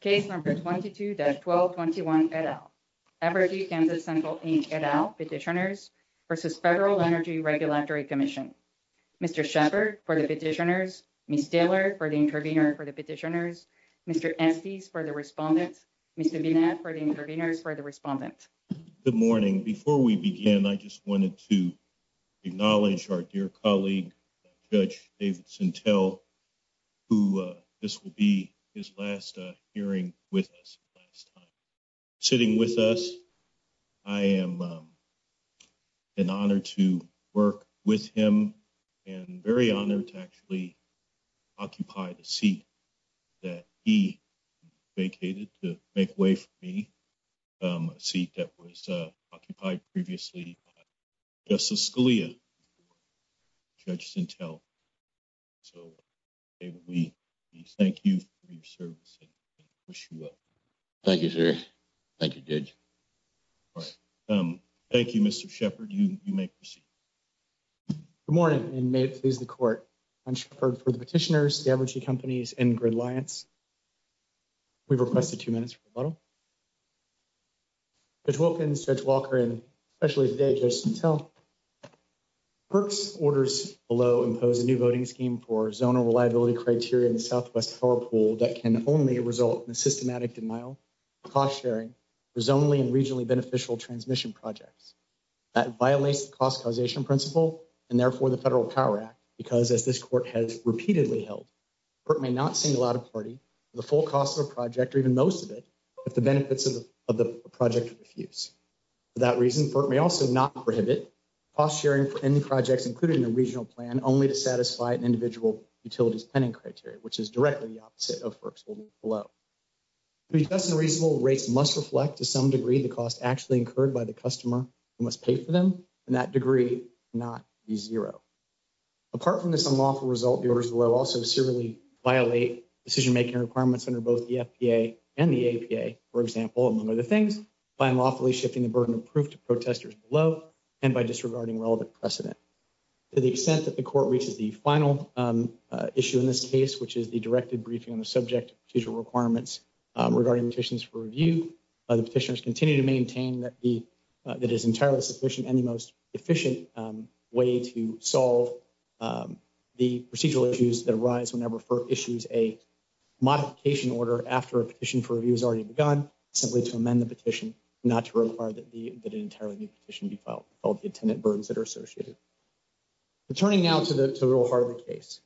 Case number 22-1221, et al. Aberdeen, Kansas Central, Inc, et al. Petitioners v. Federal Energy Regulatory Commission. Mr. Sheppard for the petitioners. Ms. Taylor for the intervener for the petitioners. Mr. Estes for the respondents. Mr. Binet for the interveners for the respondents. Good morning. Before we begin, I just wanted to acknowledge our dear colleague, Judge Davidson Tell, who this will be his last hearing with us. Sitting with us, I am in honor to work with him and very honored to actually occupy the seat that he vacated to make way for me, a seat that was occupied previously by Justice Scalia, Judge Sentell. So, we thank you for your service and wish you well. Thank you, sir. Thank you, Judge. Thank you, Mr. Sheppard. You may proceed. Good morning, and may it please the Court. I'm Sheppard for the petitioners, the Aberdeen companies, and Grid Alliance. We've requested two minutes for rebuttal. Judge Wilkins, Judge Walker, and especially today, Judge Sentell, PERC's orders below impose a new voting scheme for zonal reliability criteria in the Southwest Power Pool that can only result in a systematic denial of cost-sharing for zonally and regionally beneficial transmission projects. That violates the cost causation principle and therefore the Federal Power Act because, as this Court has repeatedly held, PERC may not single out a party for the full cost of a project or even most of it if the benefits of the project refuse. For that reason, PERC may also not prohibit cost-sharing for any projects included in a regional plan only to satisfy an individual utility's planning criteria, which is directly the opposite of PERC's order below. To be just and reasonable, rates must reflect, to some degree, the cost actually incurred by the customer who must pay for them, and that degree cannot be zero. Apart from this unlawful result, the orders below also severely violate decision-making requirements under both the FPA and the APA, for example, among other things, by unlawfully shifting the burden of proof to protesters below and by disregarding relevant precedent. To the extent that the Court reaches the final issue in this case, which is the directed briefing on the subject of procedural requirements regarding petitions for review, the petitioners continue to maintain that it is entirely the sufficient and the most efficient way to solve the procedural issues that arise whenever PERC issues a modification order after a petition for review has already begun, simply to amend the petition, not to require that an entirely new petition be filed with all the attendant burdens that are associated. Returning now to the real heart of the case.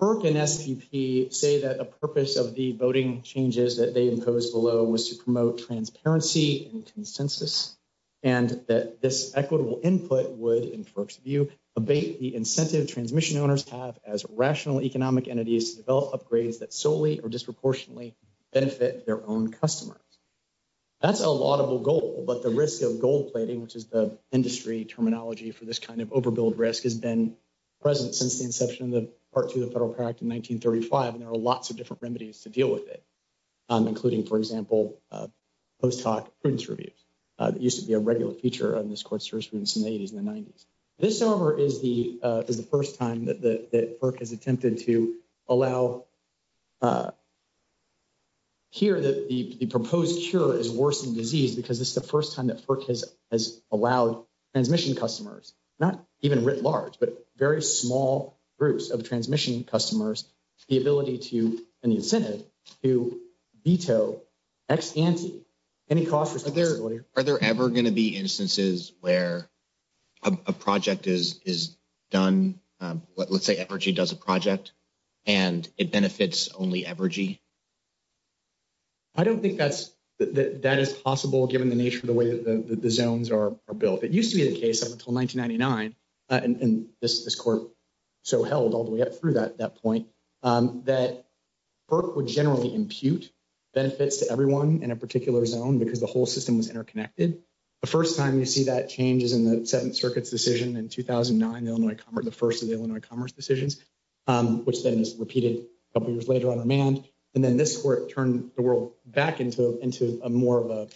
PERC and SPP say that the purpose of the voting changes that they imposed below was to promote transparency and consensus, and that this equitable input would, in PERC's view, abate the incentive transmission owners have as rational economic entities to develop upgrades that solely or disproportionately benefit their own customers. That's a laudable goal, but the risk of gold plating, which is the industry terminology for this kind of overbilled risk, has been present since the inception of Part 2 of the Federal PER Act in 1935, and there are lots of different remedies to deal with it, including, for example, post hoc prudence reviews that used to be a regular feature of this court's jurisprudence in the 80s and the 90s. This, however, is the first time that PERC has attempted to allow, here, that the proposed cure is worsening disease because this is the first time that PERC has allowed transmission customers, not even writ large, but very small groups of transmission customers, the ability to, and the incentive to, veto ex ante any cost for accessibility. Are there ever going to be instances where a project is done, let's say Evergy does a project, and it benefits only Evergy? I don't think that is possible, given the nature of the way that the zones are built. It used to be the case up until 1999, and this court so held all the way up through that point, that PERC would generally impute benefits to everyone in a particular zone because the whole system was interconnected. The first time you see that change is in the Seventh Circuit's decision in 2009, the first of the Illinois Commerce decisions, which then is repeated a couple years later on demand, and then this court turned the world back into a more of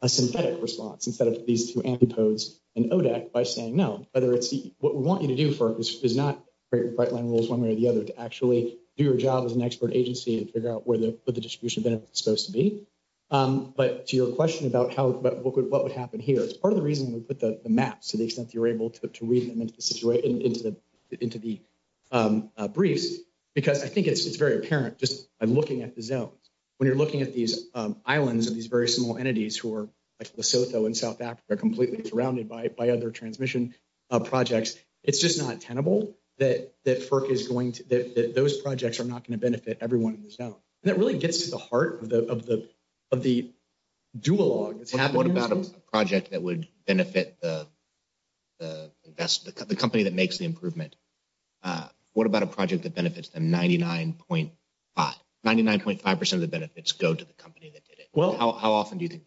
a synthetic response, instead of these two antipodes in ODAC, by saying no, whether it's what we want you to do for us is not create bright line rules one way or the other to actually do your job as an expert agency and figure out where the distribution benefits are supposed to be. But to your question about how, but what would what would happen here, it's part of the reason we put the maps to the extent you're able to read them into the situation, into the briefs, because I think it's very apparent just by looking at the zones. When you're looking at these islands of these very small entities who like Lesotho in South Africa are completely surrounded by other transmission projects, it's just not tenable that PERC is going to, that those projects are not going to benefit everyone in the zone. And that really gets to the heart of the of the of the duologue. What about a project that would benefit the company that makes the improvement? What about a project that benefits them 99.5, 99.5 percent of the benefits go to the company that did it? Well, how often do you think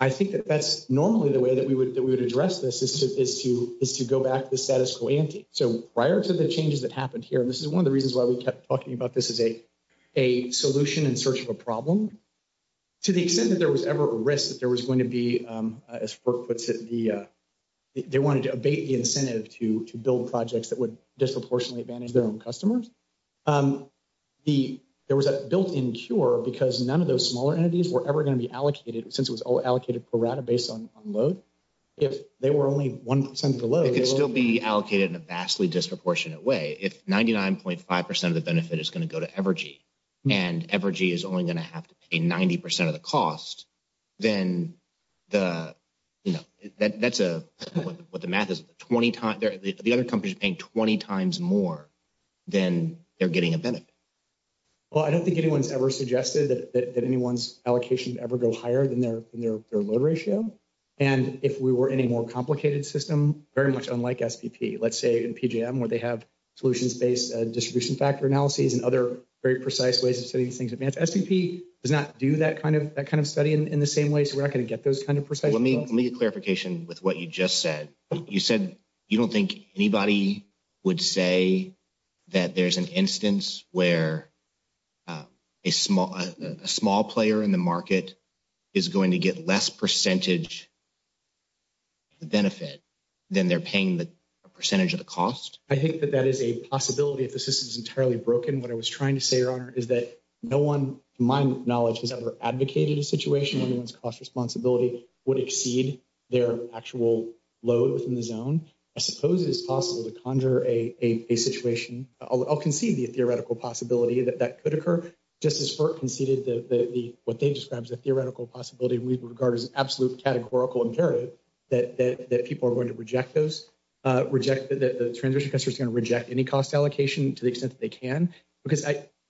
I think that that's normally the way that we would that we would address this is to is to is to go back to the status quo ante. So prior to the changes that happened here, this is one of the reasons why we kept talking about this as a a solution in search of a problem. To the extent that there was ever a risk that there was going to be, as PERC puts it, the they wanted to abate the incentive to to build projects that would disproportionately advantage their own customers. The there was a built-in cure because none of those smaller entities were ever going to be allocated per rata based on load. If they were only one percent below, it could still be allocated in a vastly disproportionate way. If 99.5 percent of the benefit is going to go to Evergy and Evergy is only going to have to pay 90 percent of the cost, then the you know that that's a what the math is 20 times the other companies paying 20 times more than they're getting a benefit. Well, I don't think anyone's ever suggested that that anyone's allocation would ever go higher than their load ratio. And if we were any more complicated system, very much unlike SPP, let's say in PJM where they have solutions based distribution factor analyses and other very precise ways of setting things advance. SPP does not do that kind of that kind of study in the same way, so we're not going to get those kind of precise. Let me let me get clarification with what you just said. You said you don't think anybody would say that there's an instance where a small player in the market is going to get less percentage benefit than they're paying the percentage of the cost. I think that that is a possibility if the system is entirely broken. What I was trying to say, Your Honor, is that no one, to my knowledge, has ever advocated a situation where anyone's cost responsibility would exceed their actual load within the zone. I suppose it is possible to conjure a situation. I'll concede the theoretical possibility that that could occur. Just as FERC conceded what they described as a theoretical possibility, we regard as an absolute categorical imperative that people are going to reject those, that the transition customers are going to reject any cost allocation to the extent that they can.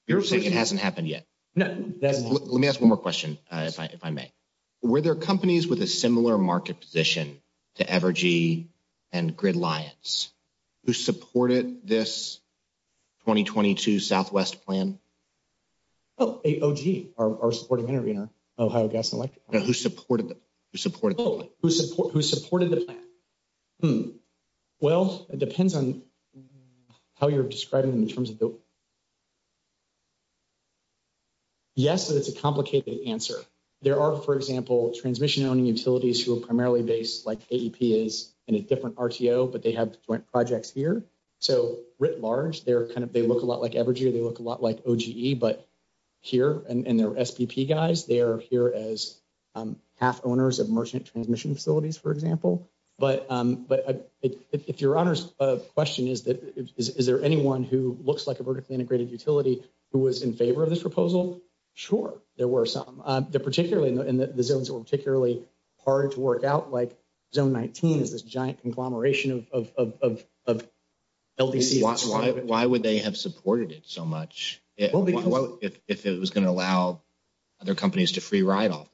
You're saying it hasn't happened yet? No, it hasn't. Let me ask one more question if I may. Were there companies with a similar market position to Evergy and the 2022 Southwest plan? Oh, AOG, our supporting intervener, Ohio Gas and Electric. Who supported the plan? Who supported the plan? Well, it depends on how you're describing them in terms of the Yes, it's a complicated answer. There are, for example, transmission-owning utilities who are primarily based, like AEP is, in a different RTO, but they have joint projects here. So, writ large, they're kind of, they look a lot like Evergy, they look a lot like OGE, but here, and they're SPP guys, they are here as half-owners of merchant transmission facilities, for example. But if Your Honor's question is that, is there anyone who looks like a vertically integrated utility who was in favor of this proposal? Sure, there were some. Particularly, in the zones that were particularly hard to work out, like Zone 19 is this giant conglomeration of LDCs. Why would they have supported it so much, if it was going to allow other companies to free ride off?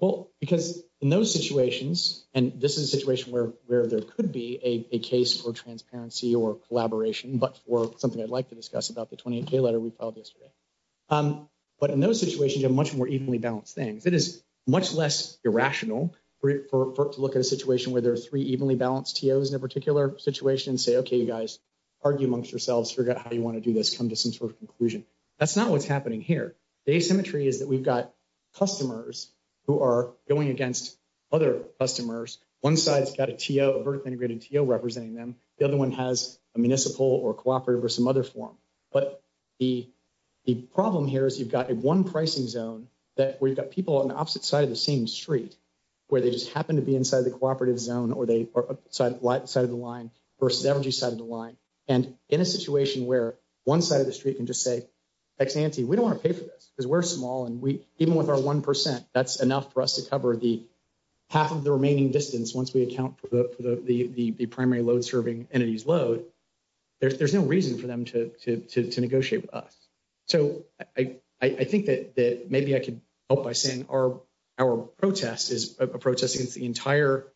Well, because in those situations, and this is a situation where there could be a case for transparency or collaboration, but for something I'd like to discuss about the 28K letter we filed yesterday. But in those situations, you have much more evenly balanced things. It is much less irrational for it to look at a situation where there are three evenly balanced TOs in a zone, and it's okay, you guys, argue amongst yourselves, figure out how you want to do this, come to some sort of conclusion. That's not what's happening here. The asymmetry is that we've got customers who are going against other customers. One side's got a TO, a vertically integrated TO representing them. The other one has a municipal or a cooperative or some other form. But the problem here is you've got one pricing zone that we've got people on the opposite side of the same street, where they just happen to be inside the cooperative zone or they are outside of the line versus the energy side of the line. And in a situation where one side of the street can just say, ex ante, we don't want to pay for this because we're small. And even with our 1%, that's enough for us to cover half of the remaining distance once we account for the primary load serving entities load. There's no reason for them to negotiate with us. So I think that maybe I could help by saying our protest is a protest against the entire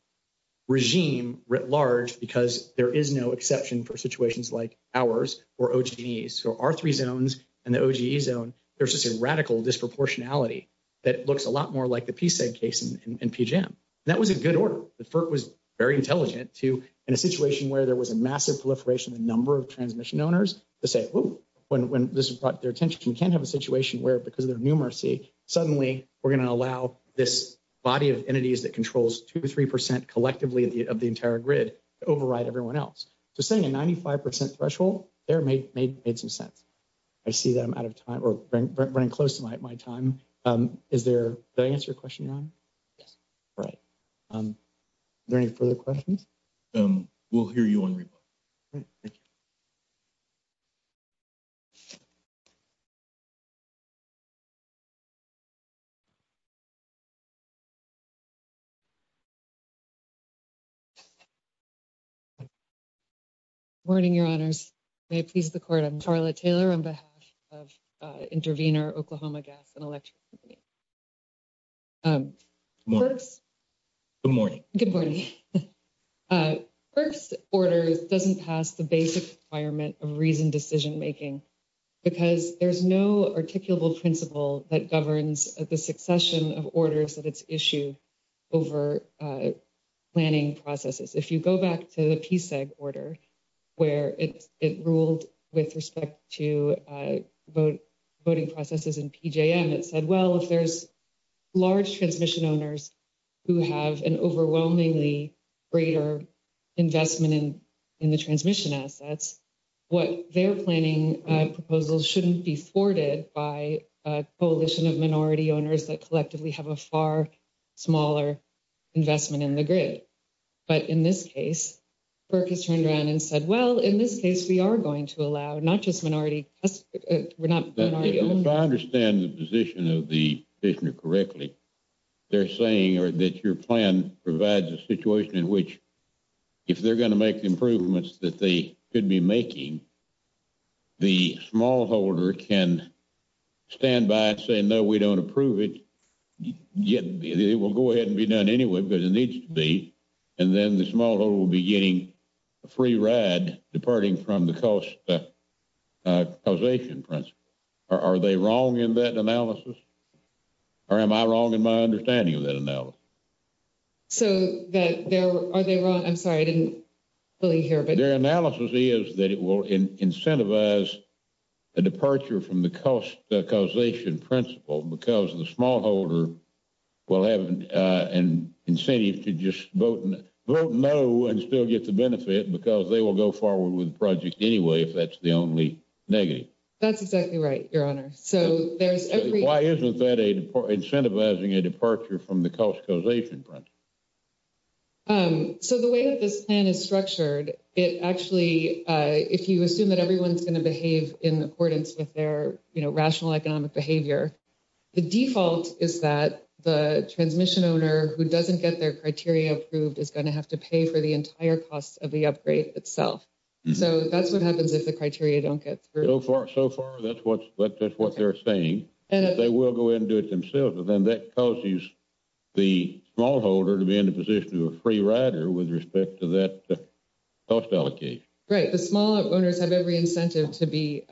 regime writ large because there is no exception for situations like ours or OGE's. So our three zones and the OGE zone, there's just a radical disproportionality that looks a lot more like the PSED case in PGM. That was a good order. The FERC was very intelligent to, in a situation where there was a massive proliferation of the number of transmission owners, to say, oh, when this brought their attention, we can't have a situation where because of their numeracy, suddenly we're this body of entities that controls 2% to 3% collectively of the entire grid to override everyone else. So setting a 95% threshold there made some sense. I see that I'm out of time or running close to my time. Is there, did I answer your question, Ron? Yes. Right. Are there any further questions? We'll hear you on rebuttal. Thank you. Good morning, your honors. May it please the court, I'm Carla Taylor on behalf of Intervenor Oklahoma Gas and Electric Company. Good morning. Good morning. FERC's order doesn't pass the basic requirement of reasoned decision-making because there's no articulable principle that governs the succession of orders that it's issued over planning processes. If you go back to the PSED order, where it ruled with respect to voting processes in PGM, it said, if there's large transmission owners who have an overwhelmingly greater investment in the transmission assets, what they're planning proposals shouldn't be thwarted by a coalition of minority owners that collectively have a far smaller investment in the grid. But in this case, FERC has turned around and said, well, in this case, we are going to allow not just minority we're not going to argue. If I understand the position of the petitioner correctly, they're saying or that your plan provides a situation in which if they're going to make improvements that they could be making, the smallholder can stand by and say, no, we don't approve it. Yet it will go ahead and be done anyway, but it needs to be. And then the smallholder will be getting a free ride departing from the cost causation principle. Are they wrong in that analysis? Or am I wrong in my understanding of that analysis? So that there are they wrong? I'm sorry, I didn't fully hear. But their analysis is that it will incentivize a departure from the cost causation principle because the smallholder will have an incentive to just vote vote no and still get the benefit because they will go forward with the project anyway, if that's the only negative. That's exactly right, your honor. So there's why isn't that a incentivizing a departure from the cost causation principle? So the way that this plan is structured, it actually, if you assume that everyone's going to behave in accordance with their, you know, rational economic behavior, the default is that the transmission owner who doesn't get their criteria approved is going to have to pay for the entire cost of the upgrade itself. So that's what happens if the criteria don't get through. So far, that's what that's what they're saying. And if they will go into it themselves, then that causes the smallholder to be in a position of a free rider with respect to that cost allocation. Right. The small owners have every incentive to be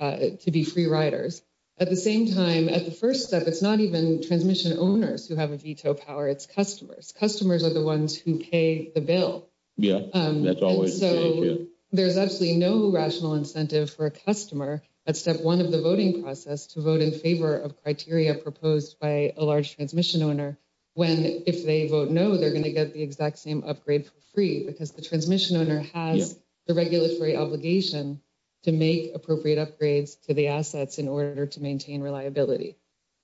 to be free riders. At the same time, at the first step, it's not even transmission owners who have a veto power. It's customers. Customers are the ones who pay the bill. Yeah, that's always so there's absolutely no rational incentive for a customer at step one of the voting process to vote in favor of criteria proposed by a large transmission owner. When if they vote no, they're going to get the exact same upgrade for free because the transmission owner has the regulatory obligation to make appropriate upgrades to the assets in order to maintain reliability.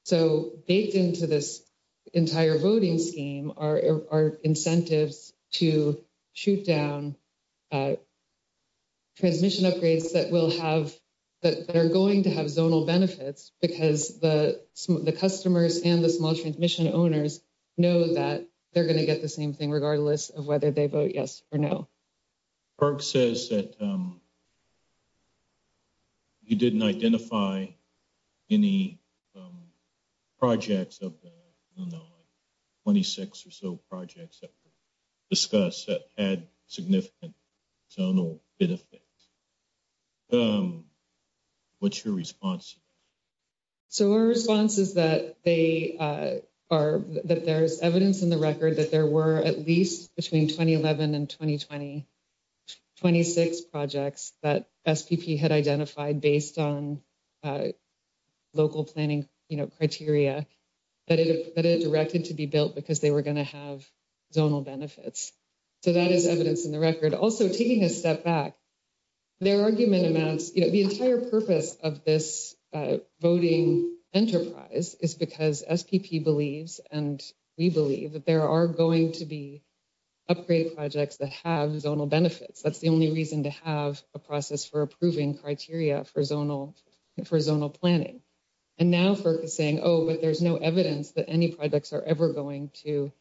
So baked into this entire voting scheme are incentives to shoot down transmission upgrades that will have that are going to have zonal benefits because the the customers and the small transmission owners know that they're going to get the same thing regardless of whether they vote yes or no. Burke says that you didn't identify any projects of the 26 or so projects that were discussed that had significant zonal benefits. What's your response? So our response is that they are that there's evidence in the record that there were at least between 2011 and 2020, 26 projects that SPP had identified based on local planning criteria that it directed to be built because they were going to have zonal benefits. So that is evidence in the record. Also, taking a step back, their argument amounts, the entire purpose of this voting enterprise is because SPP believes and we believe that there are going to be upgrade projects that have zonal benefits. That's the only reason to have a process for approving criteria for zonal planning. And now, Burke is saying, oh, but there's no evidence that any projects are ever going to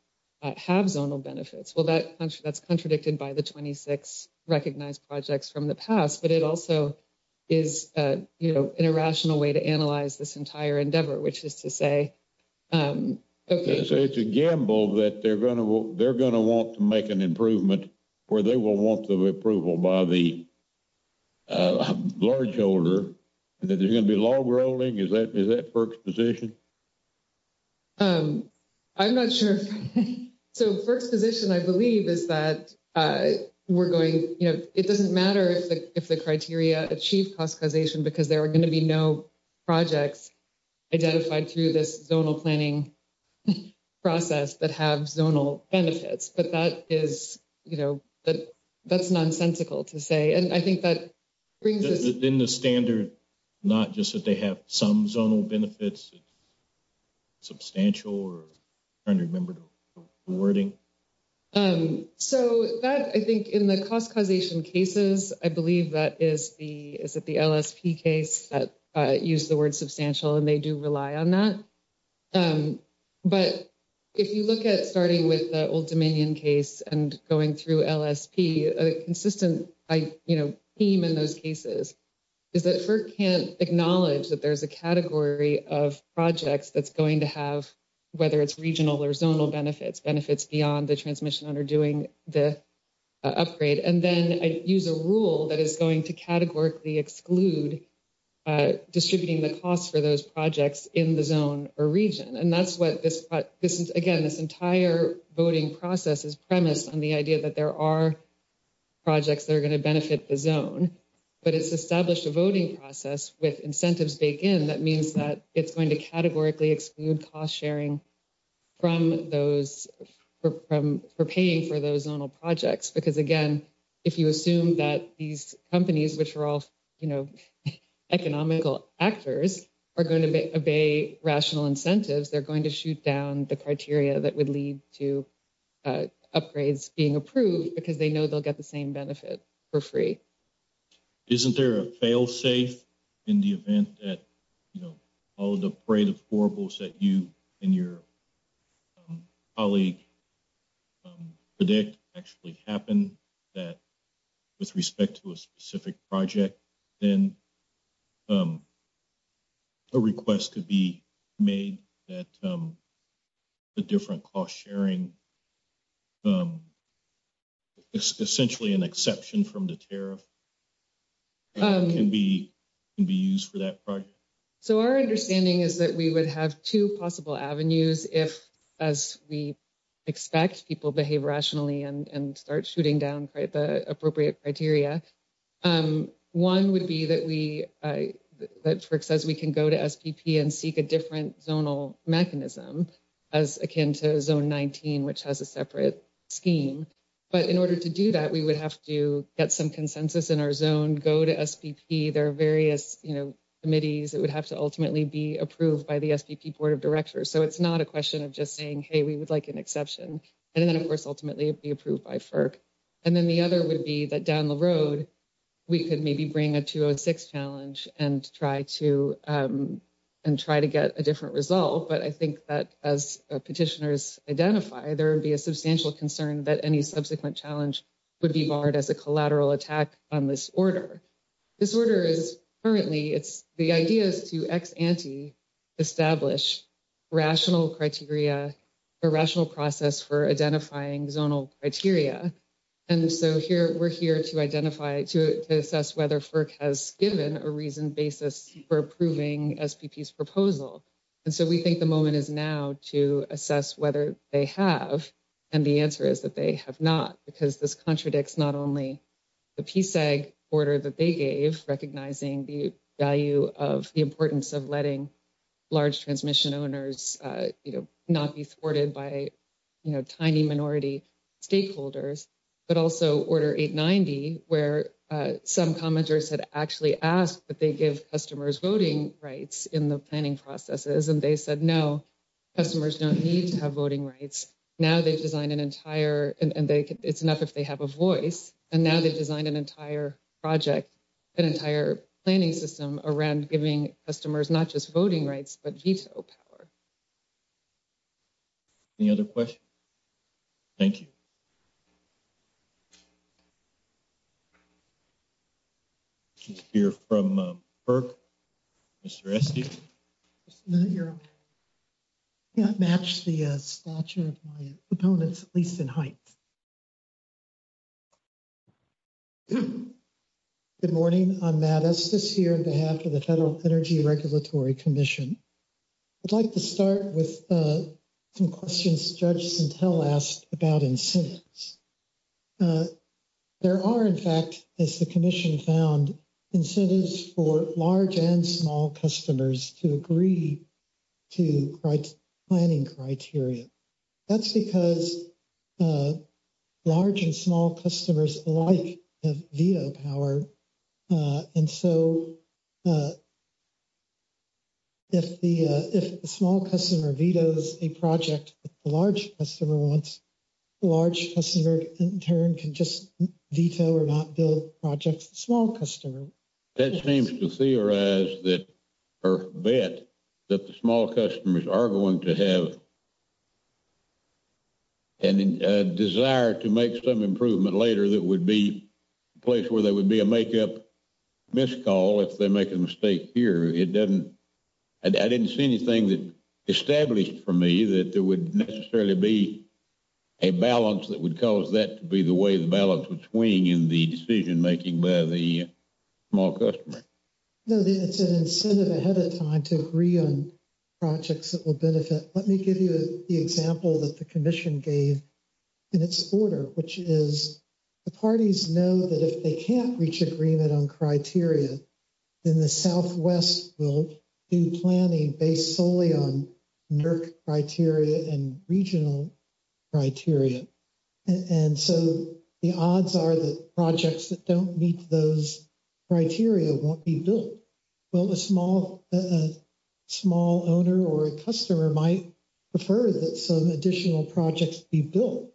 have zonal benefits. Well, that's contradicted by the 26 recognized projects from the past. But it also is, you know, an irrational way to analyze this entire endeavor, which is to say, OK, so it's a gamble that they're going to they're going to want to make an improvement where they will want the approval by the large holder that they're going to be log rolling. Is that is that Burke's position? I'm not sure. So Burke's position, I believe, is that we're going, you know, it doesn't matter if the criteria achieve cost causation because there are going to be no projects identified through this zonal planning process that have zonal benefits. But that is, you know, that that's nonsensical to say. And I think that brings us in the standard, not just that they have some zonal benefits. Substantial or trying to remember the wording, so that I think in the cost causation cases, I believe that is the is that the LSP case that use the word substantial and they do rely on that. But if you look at starting with the old Dominion case and going through LSP, a consistent I, you know, theme in those cases is that for can't acknowledge that there's a category of projects that's going to have whether it's regional or zonal benefits, benefits beyond the transmission under doing the upgrade. And then I use a rule that is going to categorically exclude distributing the costs for those projects in the zone or region. And that's what this this is again, this entire voting process is premised on the idea that there are projects that are going to benefit the zone, but it's established a voting process with incentives. That means that it's going to categorically exclude cost sharing from those for paying for those zonal projects. Because again, if you assume that these companies, which are all, you know, economical actors are going to obey rational incentives, they're going to shoot down the criteria that would lead to upgrades being approved because they know they'll get the same benefit for free. Isn't there a fail safe in the event that, you know, all of the parade of horribles that you and your colleague predict actually happen that with respect to a specific project, then a request could be made that a different cost sharing is essentially an exception from the tariff can be can be used for that project. So our understanding is that we would have two possible avenues if, as we expect people behave rationally and start shooting down the appropriate criteria. One would be that we that says we can go to SPP and seek a different zonal mechanism as zone 19, which has a separate scheme. But in order to do that, we would have to get some consensus in our zone, go to SPP. There are various committees that would have to ultimately be approved by the SPP Board of Directors. So it's not a question of just saying, hey, we would like an exception. And then, of course, ultimately be approved by FERC. And then the other would be that down the road, we could maybe bring a 206 challenge and try to and try to get a different result. But I think that as petitioners identify, there would be a substantial concern that any subsequent challenge would be barred as a collateral attack on this order. This order is currently it's the idea is to ex ante, establish rational criteria, a rational process for identifying zonal criteria. And so here we're here to identify to assess whether FERC has given a reason basis for approving SPP's proposal. And so we think the moment is now to assess whether they have. And the answer is that they have not, because this contradicts not only the PSAG order that they gave, recognizing the value of the importance of letting large transmission owners not be thwarted by tiny minority stakeholders, but also order 890, where some commenters had actually asked that they give customers voting rights in the planning processes. And they said, no, customers don't need to have voting rights. Now they've designed an entire and it's enough if they have a voice. And now they've designed an entire project, an entire planning system around giving customers not just voting rights, but veto power. Any other questions? Thank you. You're from birth, Mr. You're not matched. The stature of my opponents at least in height. Good morning on that. As this here, the half of the Federal Energy Regulatory Commission, I'd like to start with some questions judge sentel asked about incentives. Uh, there are, in fact, as the commission found incentives for large and small customers to agree. To write planning criteria, that's because. Large and small customers like the power. And so. If the, if the small customer vetoes a project, the large customer wants. Large customer in turn can just veto or not build projects. Small customer. That seems to theorize that or bet that the small customers are going to have. And desire to make some improvement later, that would be a place where there would be a makeup. Miss call if they make a mistake here, it doesn't. I didn't see anything that established for me that there would necessarily be. A balance that would cause that to be the way the balance would swing in the decision making by the. Small customer. No, it's an incentive ahead of time to agree on. Projects that will benefit. Let me give you the example that the commission gave. In its order, which is the parties know that if they can't reach agreement on criteria. In the Southwest, we'll do planning based solely on. Criteria and regional. Criteria and so the odds are that projects that don't meet those. Criteria won't be built. Well, a small, a small owner or a customer might. Prefer that some additional projects be built.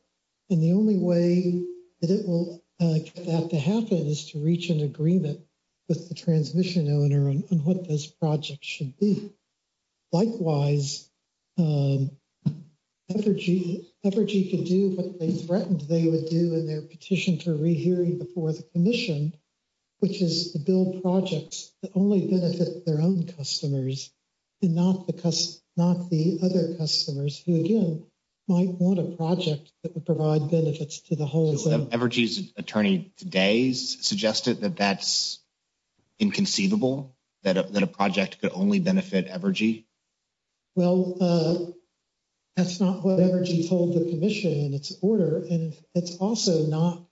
And the only way that it will have to happen is to reach an agreement. With the transmission owner on what this project should be. Likewise. Evergy can do what they threatened they would do in their petition for rehearing before the commission. Which is to build projects that only benefit their own customers. And not because not the other customers who again. Might want a project that would provide benefits to the whole. Evergy's attorney today's suggested that that's. Inconceivable that a project could only benefit Evergy. Well, that's not what Evergy told the commission in its order and it's also not.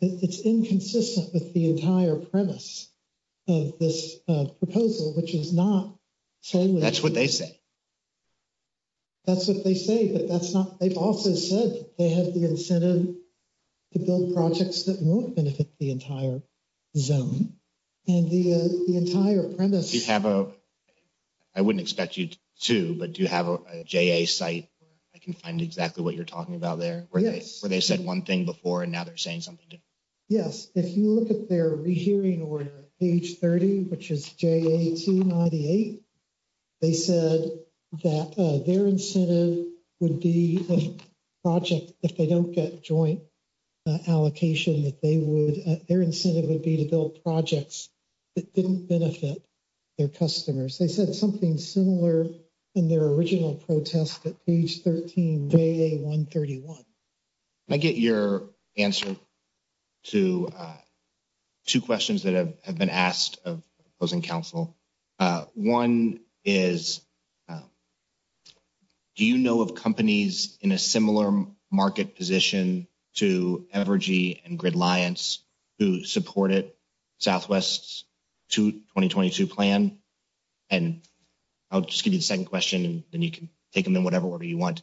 It's inconsistent with the entire premise of this proposal, which is not. That's what they say. That's what they say, but that's not they've also said they have the incentive. To build projects that won't benefit the entire zone. And the, the entire premise, you have a. I wouldn't expect you to, but do you have a site? I can find exactly what you're talking about there where they said 1 thing before and now they're saying something. Yes, if you look at their hearing or page 30, which is. They said that their incentive would be the project if they don't get joint. Allocation that they would, their incentive would be to build projects. That didn't benefit their customers, they said something similar. In their original protest at page 13 day, a 131. I get your answer to. 2 questions that have been asked of opposing counsel. 1 is. Do you know of companies in a similar market position to and grid lions who support it? Southwest to 2022 plan. And I'll just give you the 2nd question and then you can take them in whatever order you want.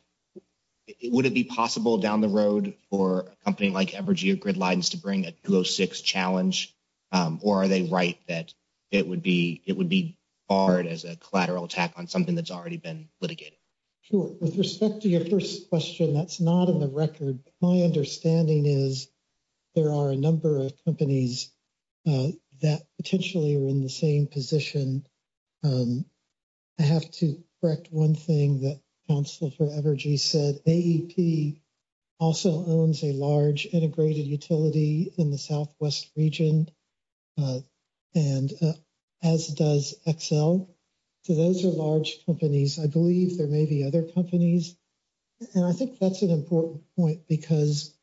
Would it be possible down the road or a company like grid lines to bring a 206 challenge? Or are they right? That it would be, it would be hard as a collateral attack on something that's already been litigated. Sure, with respect to your 1st question, that's not in the record. My understanding is. There are a number of companies that potentially are in the same position. I have to correct 1 thing that counsel for energy said. AP also owns a large integrated utility in the Southwest region. And as does Excel. So those are large companies. I believe there may be other companies. And I think that's an important point because.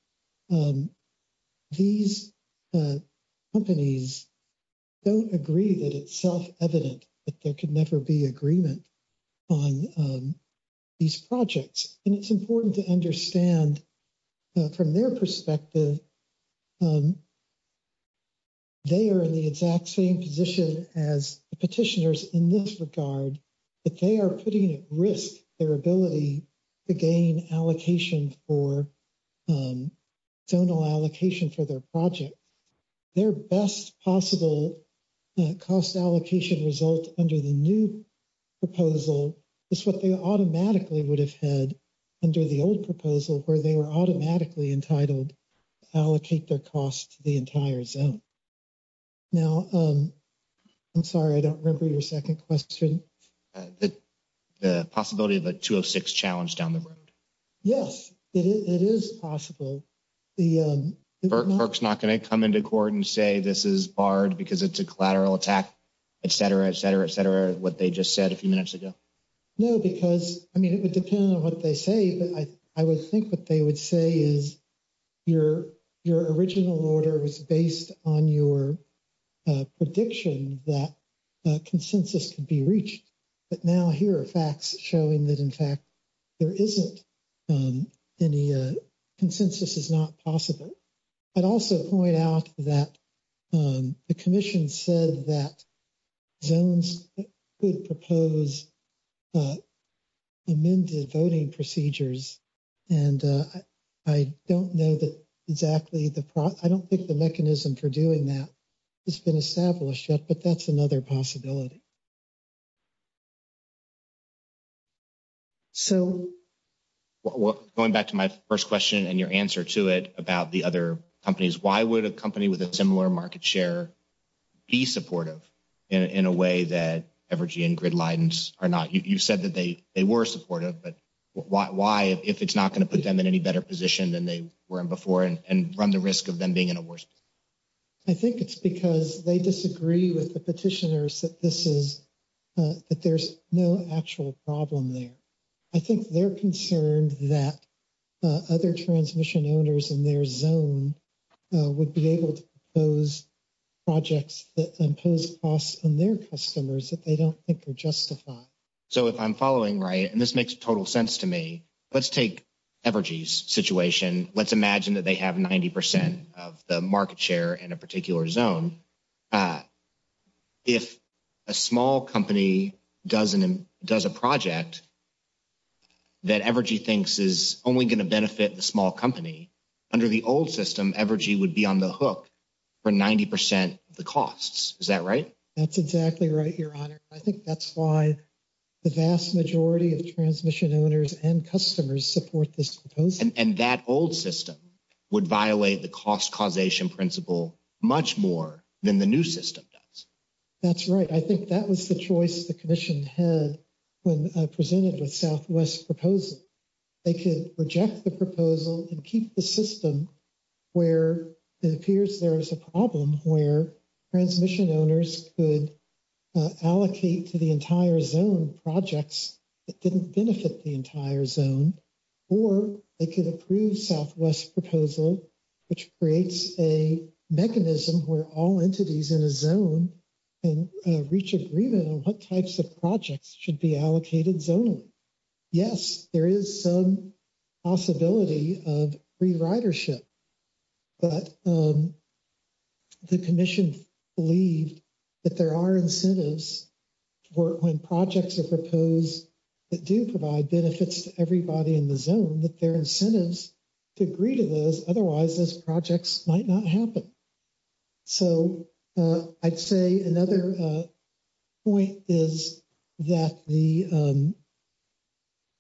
These companies. Don't agree that it's self evident that there could never be agreement. On these projects, and it's important to understand. From their perspective. They are in the exact same position as petitioners in this regard. But they are putting at risk their ability to gain allocation for. Don't allow allocation for their project. Their best possible cost allocation result under the new. Proposal is what they automatically would have had. Under the old proposal where they were automatically entitled. Allocate their costs to the entire zone. Now, I'm sorry, I don't remember your 2nd question. The possibility of a 206 challenge down the road. Yes, it is possible. The folks not going to come into court and say, this is barred because it's a collateral attack. Et cetera, et cetera, et cetera, what they just said a few minutes ago. No, because, I mean, it would depend on what they say, but I, I would think what they would say is. Your original order was based on your. Prediction that consensus could be reached. But now here are facts showing that, in fact. There isn't any consensus is not possible. I'd also point out that the commission said that. Zones could propose. Amended voting procedures and. I don't know that exactly the, I don't think the mechanism for doing that. It's been established yet, but that's another possibility. So, going back to my 1st question and your answer to it about the other companies, why would a company with a similar market share. Be supportive in a way that evergy and grid lines are not you said that they, they were supportive, but why if it's not going to put them in any better position than they were in before and run the risk of them being in a worse. I think it's because they disagree with the petitioners that this is. That there's no actual problem there. I think they're concerned that other transmission owners in their zone. Would be able to those projects that impose costs on their customers that they don't think are justified. So, if I'm following right and this makes total sense to me, let's take. Evergy's situation, let's imagine that they have 90% of the market share in a particular zone. If a small company doesn't does a project. That evergy thinks is only going to benefit the small company. Under the old system, evergy would be on the hook for 90% of the costs. Is that right? That's exactly right. Your honor. I think that's why. The vast majority of transmission owners and customers support this and that old system would violate the cost causation principle much more than the new system does. That's right. I think that was the choice the commission had. When I presented with Southwest proposal, they could reject the proposal and keep the system. Where it appears there is a problem where transmission owners could. Allocate to the entire zone projects. It didn't benefit the entire zone, or they could approve Southwest proposal. Which creates a mechanism where all entities in a zone. And reach agreement on what types of projects should be allocated zone. Yes, there is some possibility of free ridership. But the commission. Believe that there are incentives. Work when projects are proposed that do provide benefits to everybody in the zone that their incentives. To agree to those, otherwise those projects might not happen. So, I'd say another. Point is that the.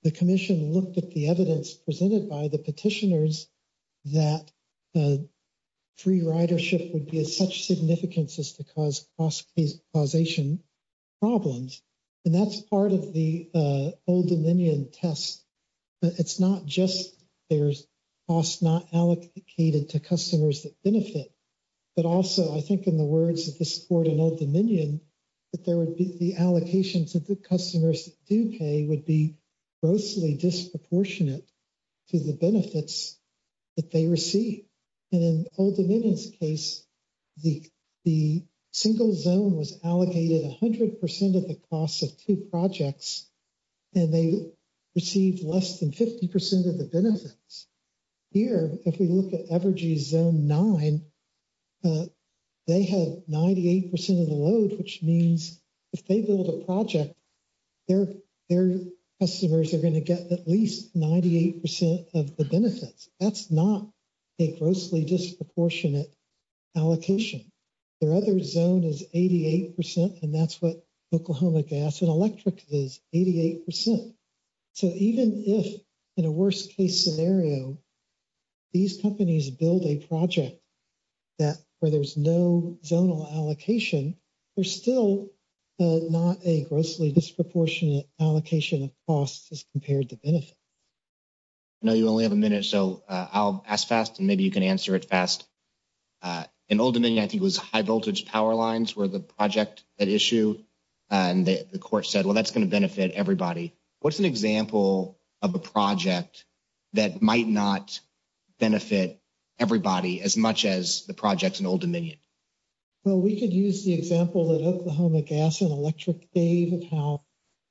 The commission looked at the evidence presented by the petitioners. That free ridership would be as such significance as to cause cost causation. Problems and that's part of the old dominion test. It's not just there's cost not allocated to customers that benefit. But also, I think, in the words of the sport and old dominion. That there would be the allocations of the customers do pay would be. Grossly disproportionate to the benefits. That they receive and then hold the case. The, the single zone was allocated 100% of the cost of 2 projects. And they received less than 50% of the benefits. Here, if we look at Evergy zone 9. They have 98% of the load, which means if they build a project. Their, their customers are going to get at least 98% of the benefits. That's not a grossly disproportionate allocation. Their other zone is 88% and that's what Oklahoma gas and electric is 88%. So, even if in a worst case scenario. These companies build a project that where there's no zonal allocation. There's still not a grossly disproportionate allocation of costs as compared to benefit. No, you only have a minute, so I'll ask fast and maybe you can answer it fast. And ultimately, I think it was high voltage power lines where the project that issue. And the court said, well, that's going to benefit everybody. What's an example of a project that might not. Benefit everybody as much as the projects and old dominion. Well, we could use the example that Oklahoma gas and electric gave of how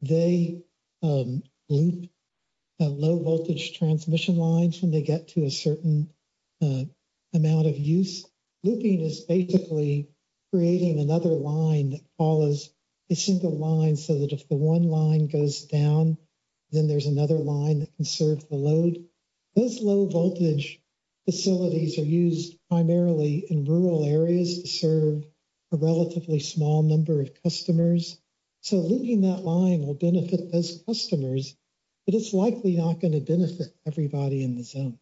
they loop. A low voltage transmission lines when they get to a certain. Amount of use looping is basically creating another line that follows. A single line so that if the 1 line goes down. Then there's another line that can serve the load those low voltage. Facilities are used primarily in rural areas to serve. A relatively small number of customers. So, leaving that line will benefit those customers. But it's likely not going to benefit everybody in the zone.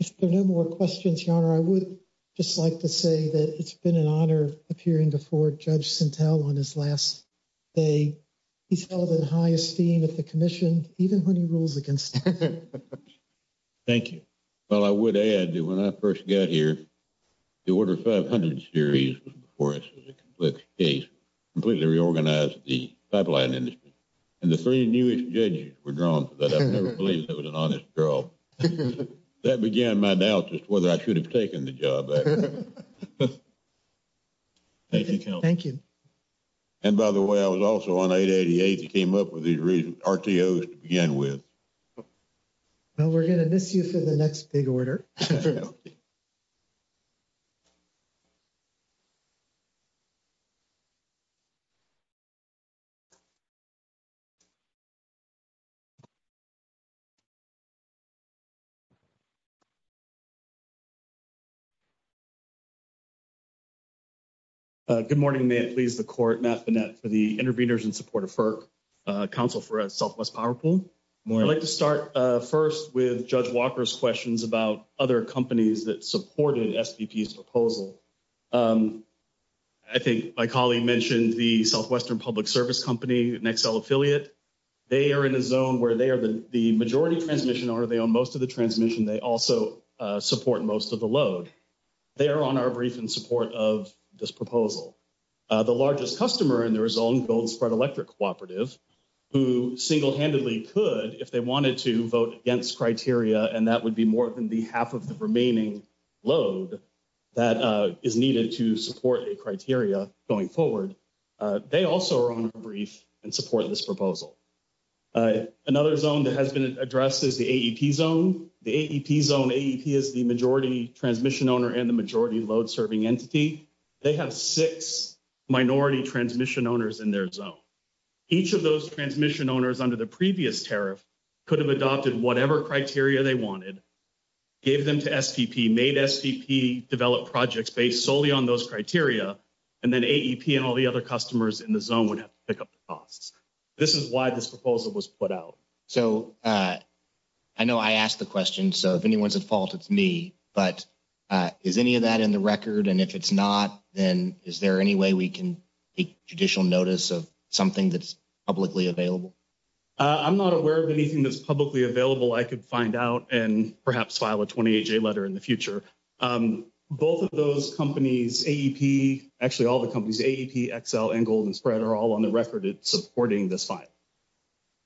If there are no more questions, your honor, I would just like to say that it's been an Even when he rules against. Thank you. Well, I would add that when I 1st got here. The order 500 series was before us as a complex case. Completely reorganized the pipeline industry. And the 3 newest judges were drawn to that. I've never believed that was an honest girl. That began my doubt as to whether I should have taken the job. Thank you. Thank you. And by the way, I was also on 888. He came up with these reasons to begin with. Well, we're going to miss you for the next big order. For now. Good morning. May it please the court for the intervenors in support of. Council for a Southwest powerful. I'd like to start 1st with judge Walker's questions about other companies that supported proposal. I think my colleague mentioned the Southwestern public service company and Excel affiliate. They are in a zone where they are the majority transmission or they own most of the transmission. They also support most of the load. They are on our brief and support of this proposal. The largest customer and there is on gold spread electric cooperative. Who single handedly could, if they wanted to vote against criteria, and that would be more than the half of the remaining load. That is needed to support a criteria going forward. They also are on a brief and support this proposal. Another zone that has been addressed is the zone. The zone is the majority transmission owner and the majority load serving entity. They have 6 minority transmission owners in their zone. Each of those transmission owners under the previous tariff. Could have adopted whatever criteria they wanted. Gave them to made develop projects based solely on those criteria. And then and all the other customers in the zone would have to pick up the costs. This is why this proposal was put out. So, I know I asked the question. So, if anyone's at fault, it's me. But is any of that in the record? And if it's not, then is there any way we can take judicial notice of something? That's publicly available. I'm not aware of anything that's publicly available. I could find out and perhaps file a 20 letter in the future. Both of those companies, actually, all the companies and golden spread are all on the record supporting this fine.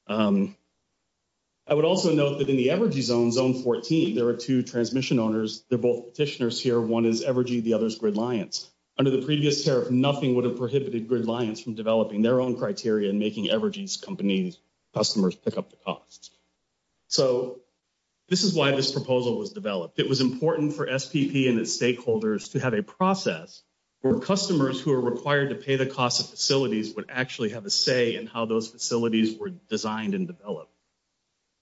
I would also note that in the zone 14, there are 2 transmission owners. They're both petitioners here. 1 is evergy. The other is gridliance. Under the previous tariff, nothing would have prohibited gridliance from developing their own criteria and making evergy's companies customers pick up the costs. So, this is why this proposal was developed. It was important for SPP and its stakeholders to have a process where customers who are required to pay the cost of facilities would actually have a say in how those facilities were designed and developed.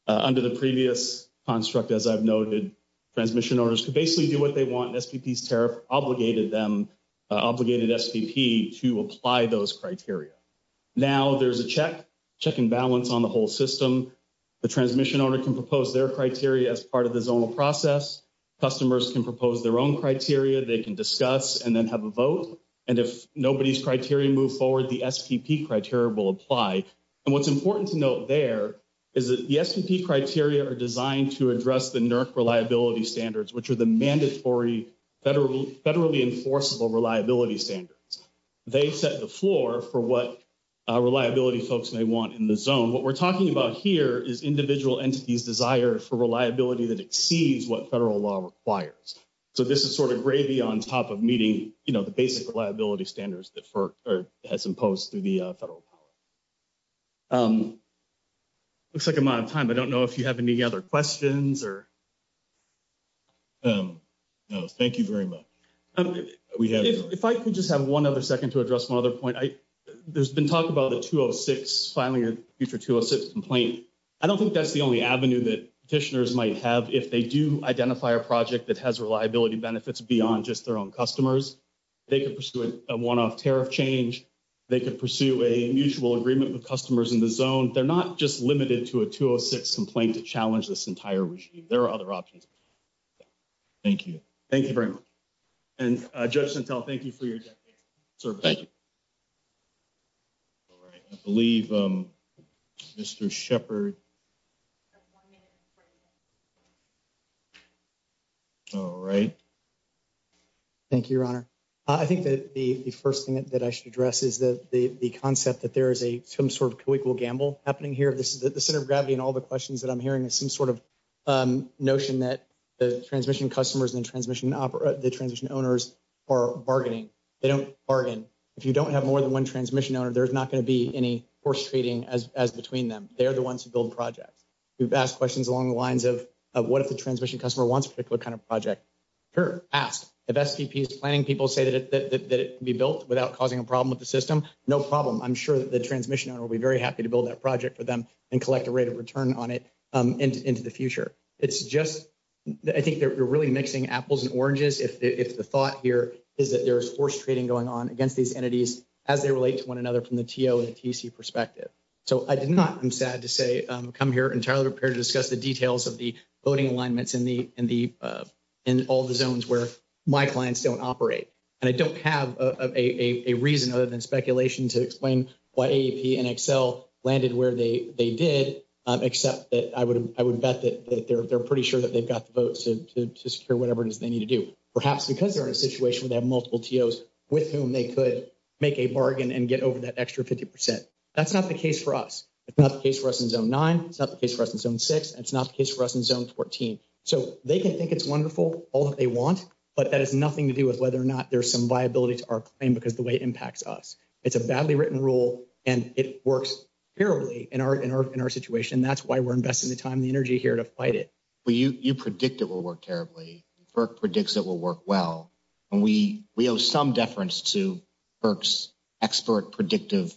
Under the previous construct, as I've noted, transmission owners could basically do what they want and SPP's tariff obligated them, obligated SPP to apply those criteria. Now, there's a check, check and balance on the whole system. The transmission owner can propose their criteria as part of the zonal process. Customers can propose their own criteria. They can discuss and then have a vote. And if nobody's criteria move forward, the SPP criteria will apply. And what's important to note there is that the SPP criteria are designed to address the federally enforceable reliability standards. They set the floor for what reliability folks may want in the zone. What we're talking about here is individual entities desire for reliability that exceeds what federal law requires. So, this is sort of gravy on top of meeting, you know, the basic reliability standards that FERC has imposed through the federal power. Looks like I'm out of time. I don't know if you have any other questions or. No, thank you very much. If I could just have one other second to address one other point. There's been talk about the 206, filing a future 206 complaint. I don't think that's the only avenue that petitioners might have if they do identify a project that has reliability benefits beyond just their own customers. They could pursue a one-off tariff change. They could pursue a mutual agreement with customers in the zone. They're not just limited to a 206 complaint to challenge this entire regime. There are other options. Thank you. Thank you very much. And Judge Santel, thank you for your service. All right, I believe Mr. Shepard. All right. Thank you, Your Honor. I think that the first thing that I should address is that the concept that there is some sort of co-equal gamble happening here. The center of gravity in all the questions that I'm hearing is some sort of notion that the transmission customers and the transmission owners are bargaining. They don't bargain. If you don't have more than one transmission owner, there's not going to be any force trading as between them. They're the ones who build projects. We've asked questions along the lines of what if the transmission customer wants a particular kind of project. Sure, ask. If SPP is planning, people say that it can be built without causing a problem with the system. No problem. I'm sure that the transmission owner will be very happy to build that project for them and collect a rate of return on it into the future. It's just, I think they're really mixing apples and oranges if the thought here is that there's force trading going on against these entities as they relate to one another from the TO and TC perspective. So I did not, I'm sad to say, come here entirely prepared to discuss the details of the voting alignments in all the zones where my clients don't operate. And I don't have a reason other than speculation to explain why AAP and Excel landed where they did, except that I would bet that they're pretty sure that they've got the votes to secure whatever it is they need to do. Perhaps because they're in a situation where they have multiple TOs with whom they could make a bargain and get over that extra 50%. That's not the case for us. It's not the case for us in Zone 9. It's not the case for us in Zone 6. It's not the case for us in Zone 14. So they can think it's wonderful, all that they want, but that has nothing to do with whether or not there's some viability to our claim because of the way it impacts us. It's a badly written rule, and it works terribly in our situation. That's why we're investing the time and the energy here to fight it. Well, you predict it will work terribly. FERC predicts it will work well. And we owe some deference to FERC's expert predictive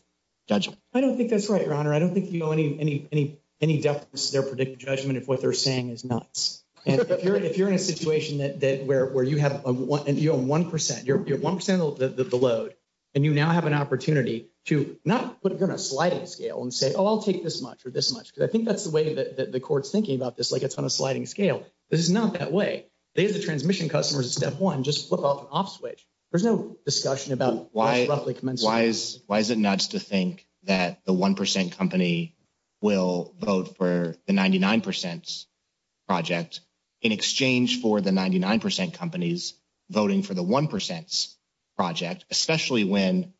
judgment. I don't think that's right, Your Honor. I don't think you owe any deference to their predictive judgment if what they're saying is nuts. If you're in a situation where you own 1%, you're 1% of the load, and you now have an opportunity to not put it on a sliding scale and say, oh, I'll take this much or this much, because I think that's the way that the Court's thinking about this, like it's on a sliding scale. This is not that way. These are the transmission customers at step one. Just flip off an off switch. There's no discussion about why it's roughly commensurate. Why is it nuts to think that the 1% company will vote for the 99% project in exchange for the 99% companies voting for the 1% project, especially when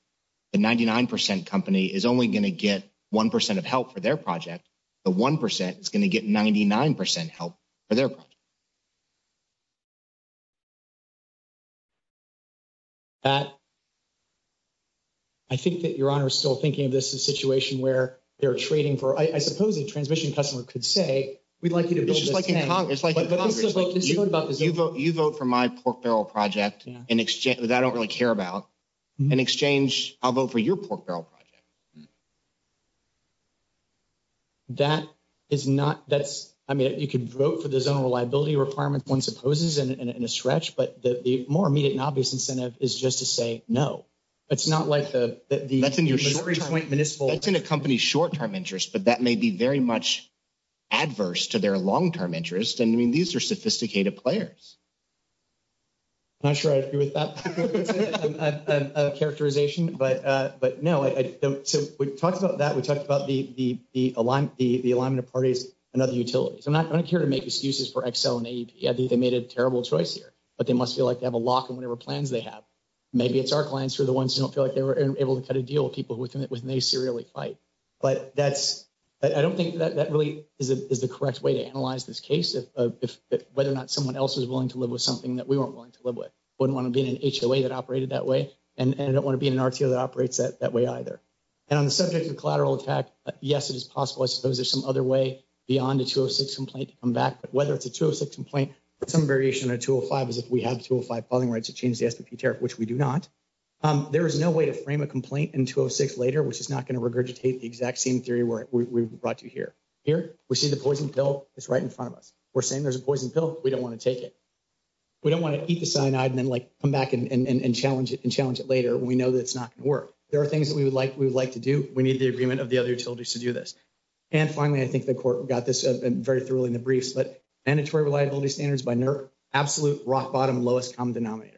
the 99% company is only going to get 1% of help for their project. The 1% is going to get 99% help for their project. That, I think that Your Honor is still thinking of this as a situation where they're trading for, I suppose a transmission customer could say, we'd like you to build this thing. It's just like in Congress. It's like in Congress. But this is what they're concerned about. You vote for my pork barrel project in exchange, that I don't really care about. In exchange, I'll vote for your pork barrel project. That is not, that's, I mean, you could vote for the zone of reliability requirements, one supposes in a stretch, but the more immediate and obvious incentive is just to say no. It's not like the, that's in your short-term, that's in a company's short-term interest, but that may be very much adverse to their long-term interest. And I mean, these are sophisticated players. I'm not sure I agree with that characterization, but no, I don't think that's the case. So we've talked about that. We talked about the alignment of parties and other utilities. I'm not going to care to make excuses for Excel and AEP. I think they made a terrible choice here, but they must feel like they have a lock on whatever plans they have. Maybe it's our clients who are the ones who don't feel like they were able to cut a deal with people with whom they serially fight. But that's, I don't think that really is the correct way to analyze this case of whether or not someone else is willing to live with something that we weren't willing to live with. Wouldn't want to be in an HOA that operated that way. And I don't want to be in an RTO that operates that way either. And on the subject of collateral attack, yes, it is possible. I suppose there's some other way beyond a 206 complaint to come back, but whether it's a 206 complaint or some variation on a 205 is if we have 205 filing rights to change the SBP tariff, which we do not. There is no way to frame a complaint in 206 later, which is not going to regurgitate the exact same theory where we brought you here. Here, we see the poison pill is right in front of us. We're saying there's a poison pill. We don't want to take it. We don't want to eat the cyanide and then like come back and challenge it and challenge it later when we know that it's not going to work. There are things that we would like to do. We need the agreement of the other utilities to do this. And finally, I think the court got this very thoroughly in the briefs, but mandatory reliability standards by NERC, absolute rock bottom lowest common denominator.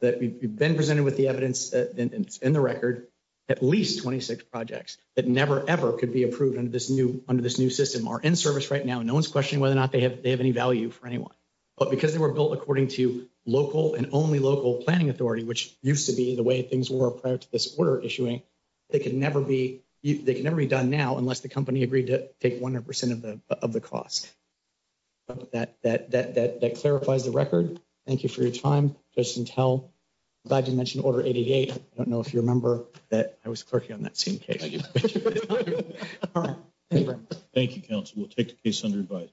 That we've been presented with the evidence in the record, at least 26 projects that never, ever could be approved under this new system are in service right now. No one's questioning whether or not they have any value for anyone. But because they were built according to local and only local planning authority, which used to be the way things were prior to this order issuing, they can never be done now unless the company agreed to take 100% of the cost. That clarifies the record. Thank you for your time. Judge Sintel, I'm glad you mentioned Order 888. I don't know if you remember that I was clerking on that same case. Thank you, counsel. We'll take the case under advice.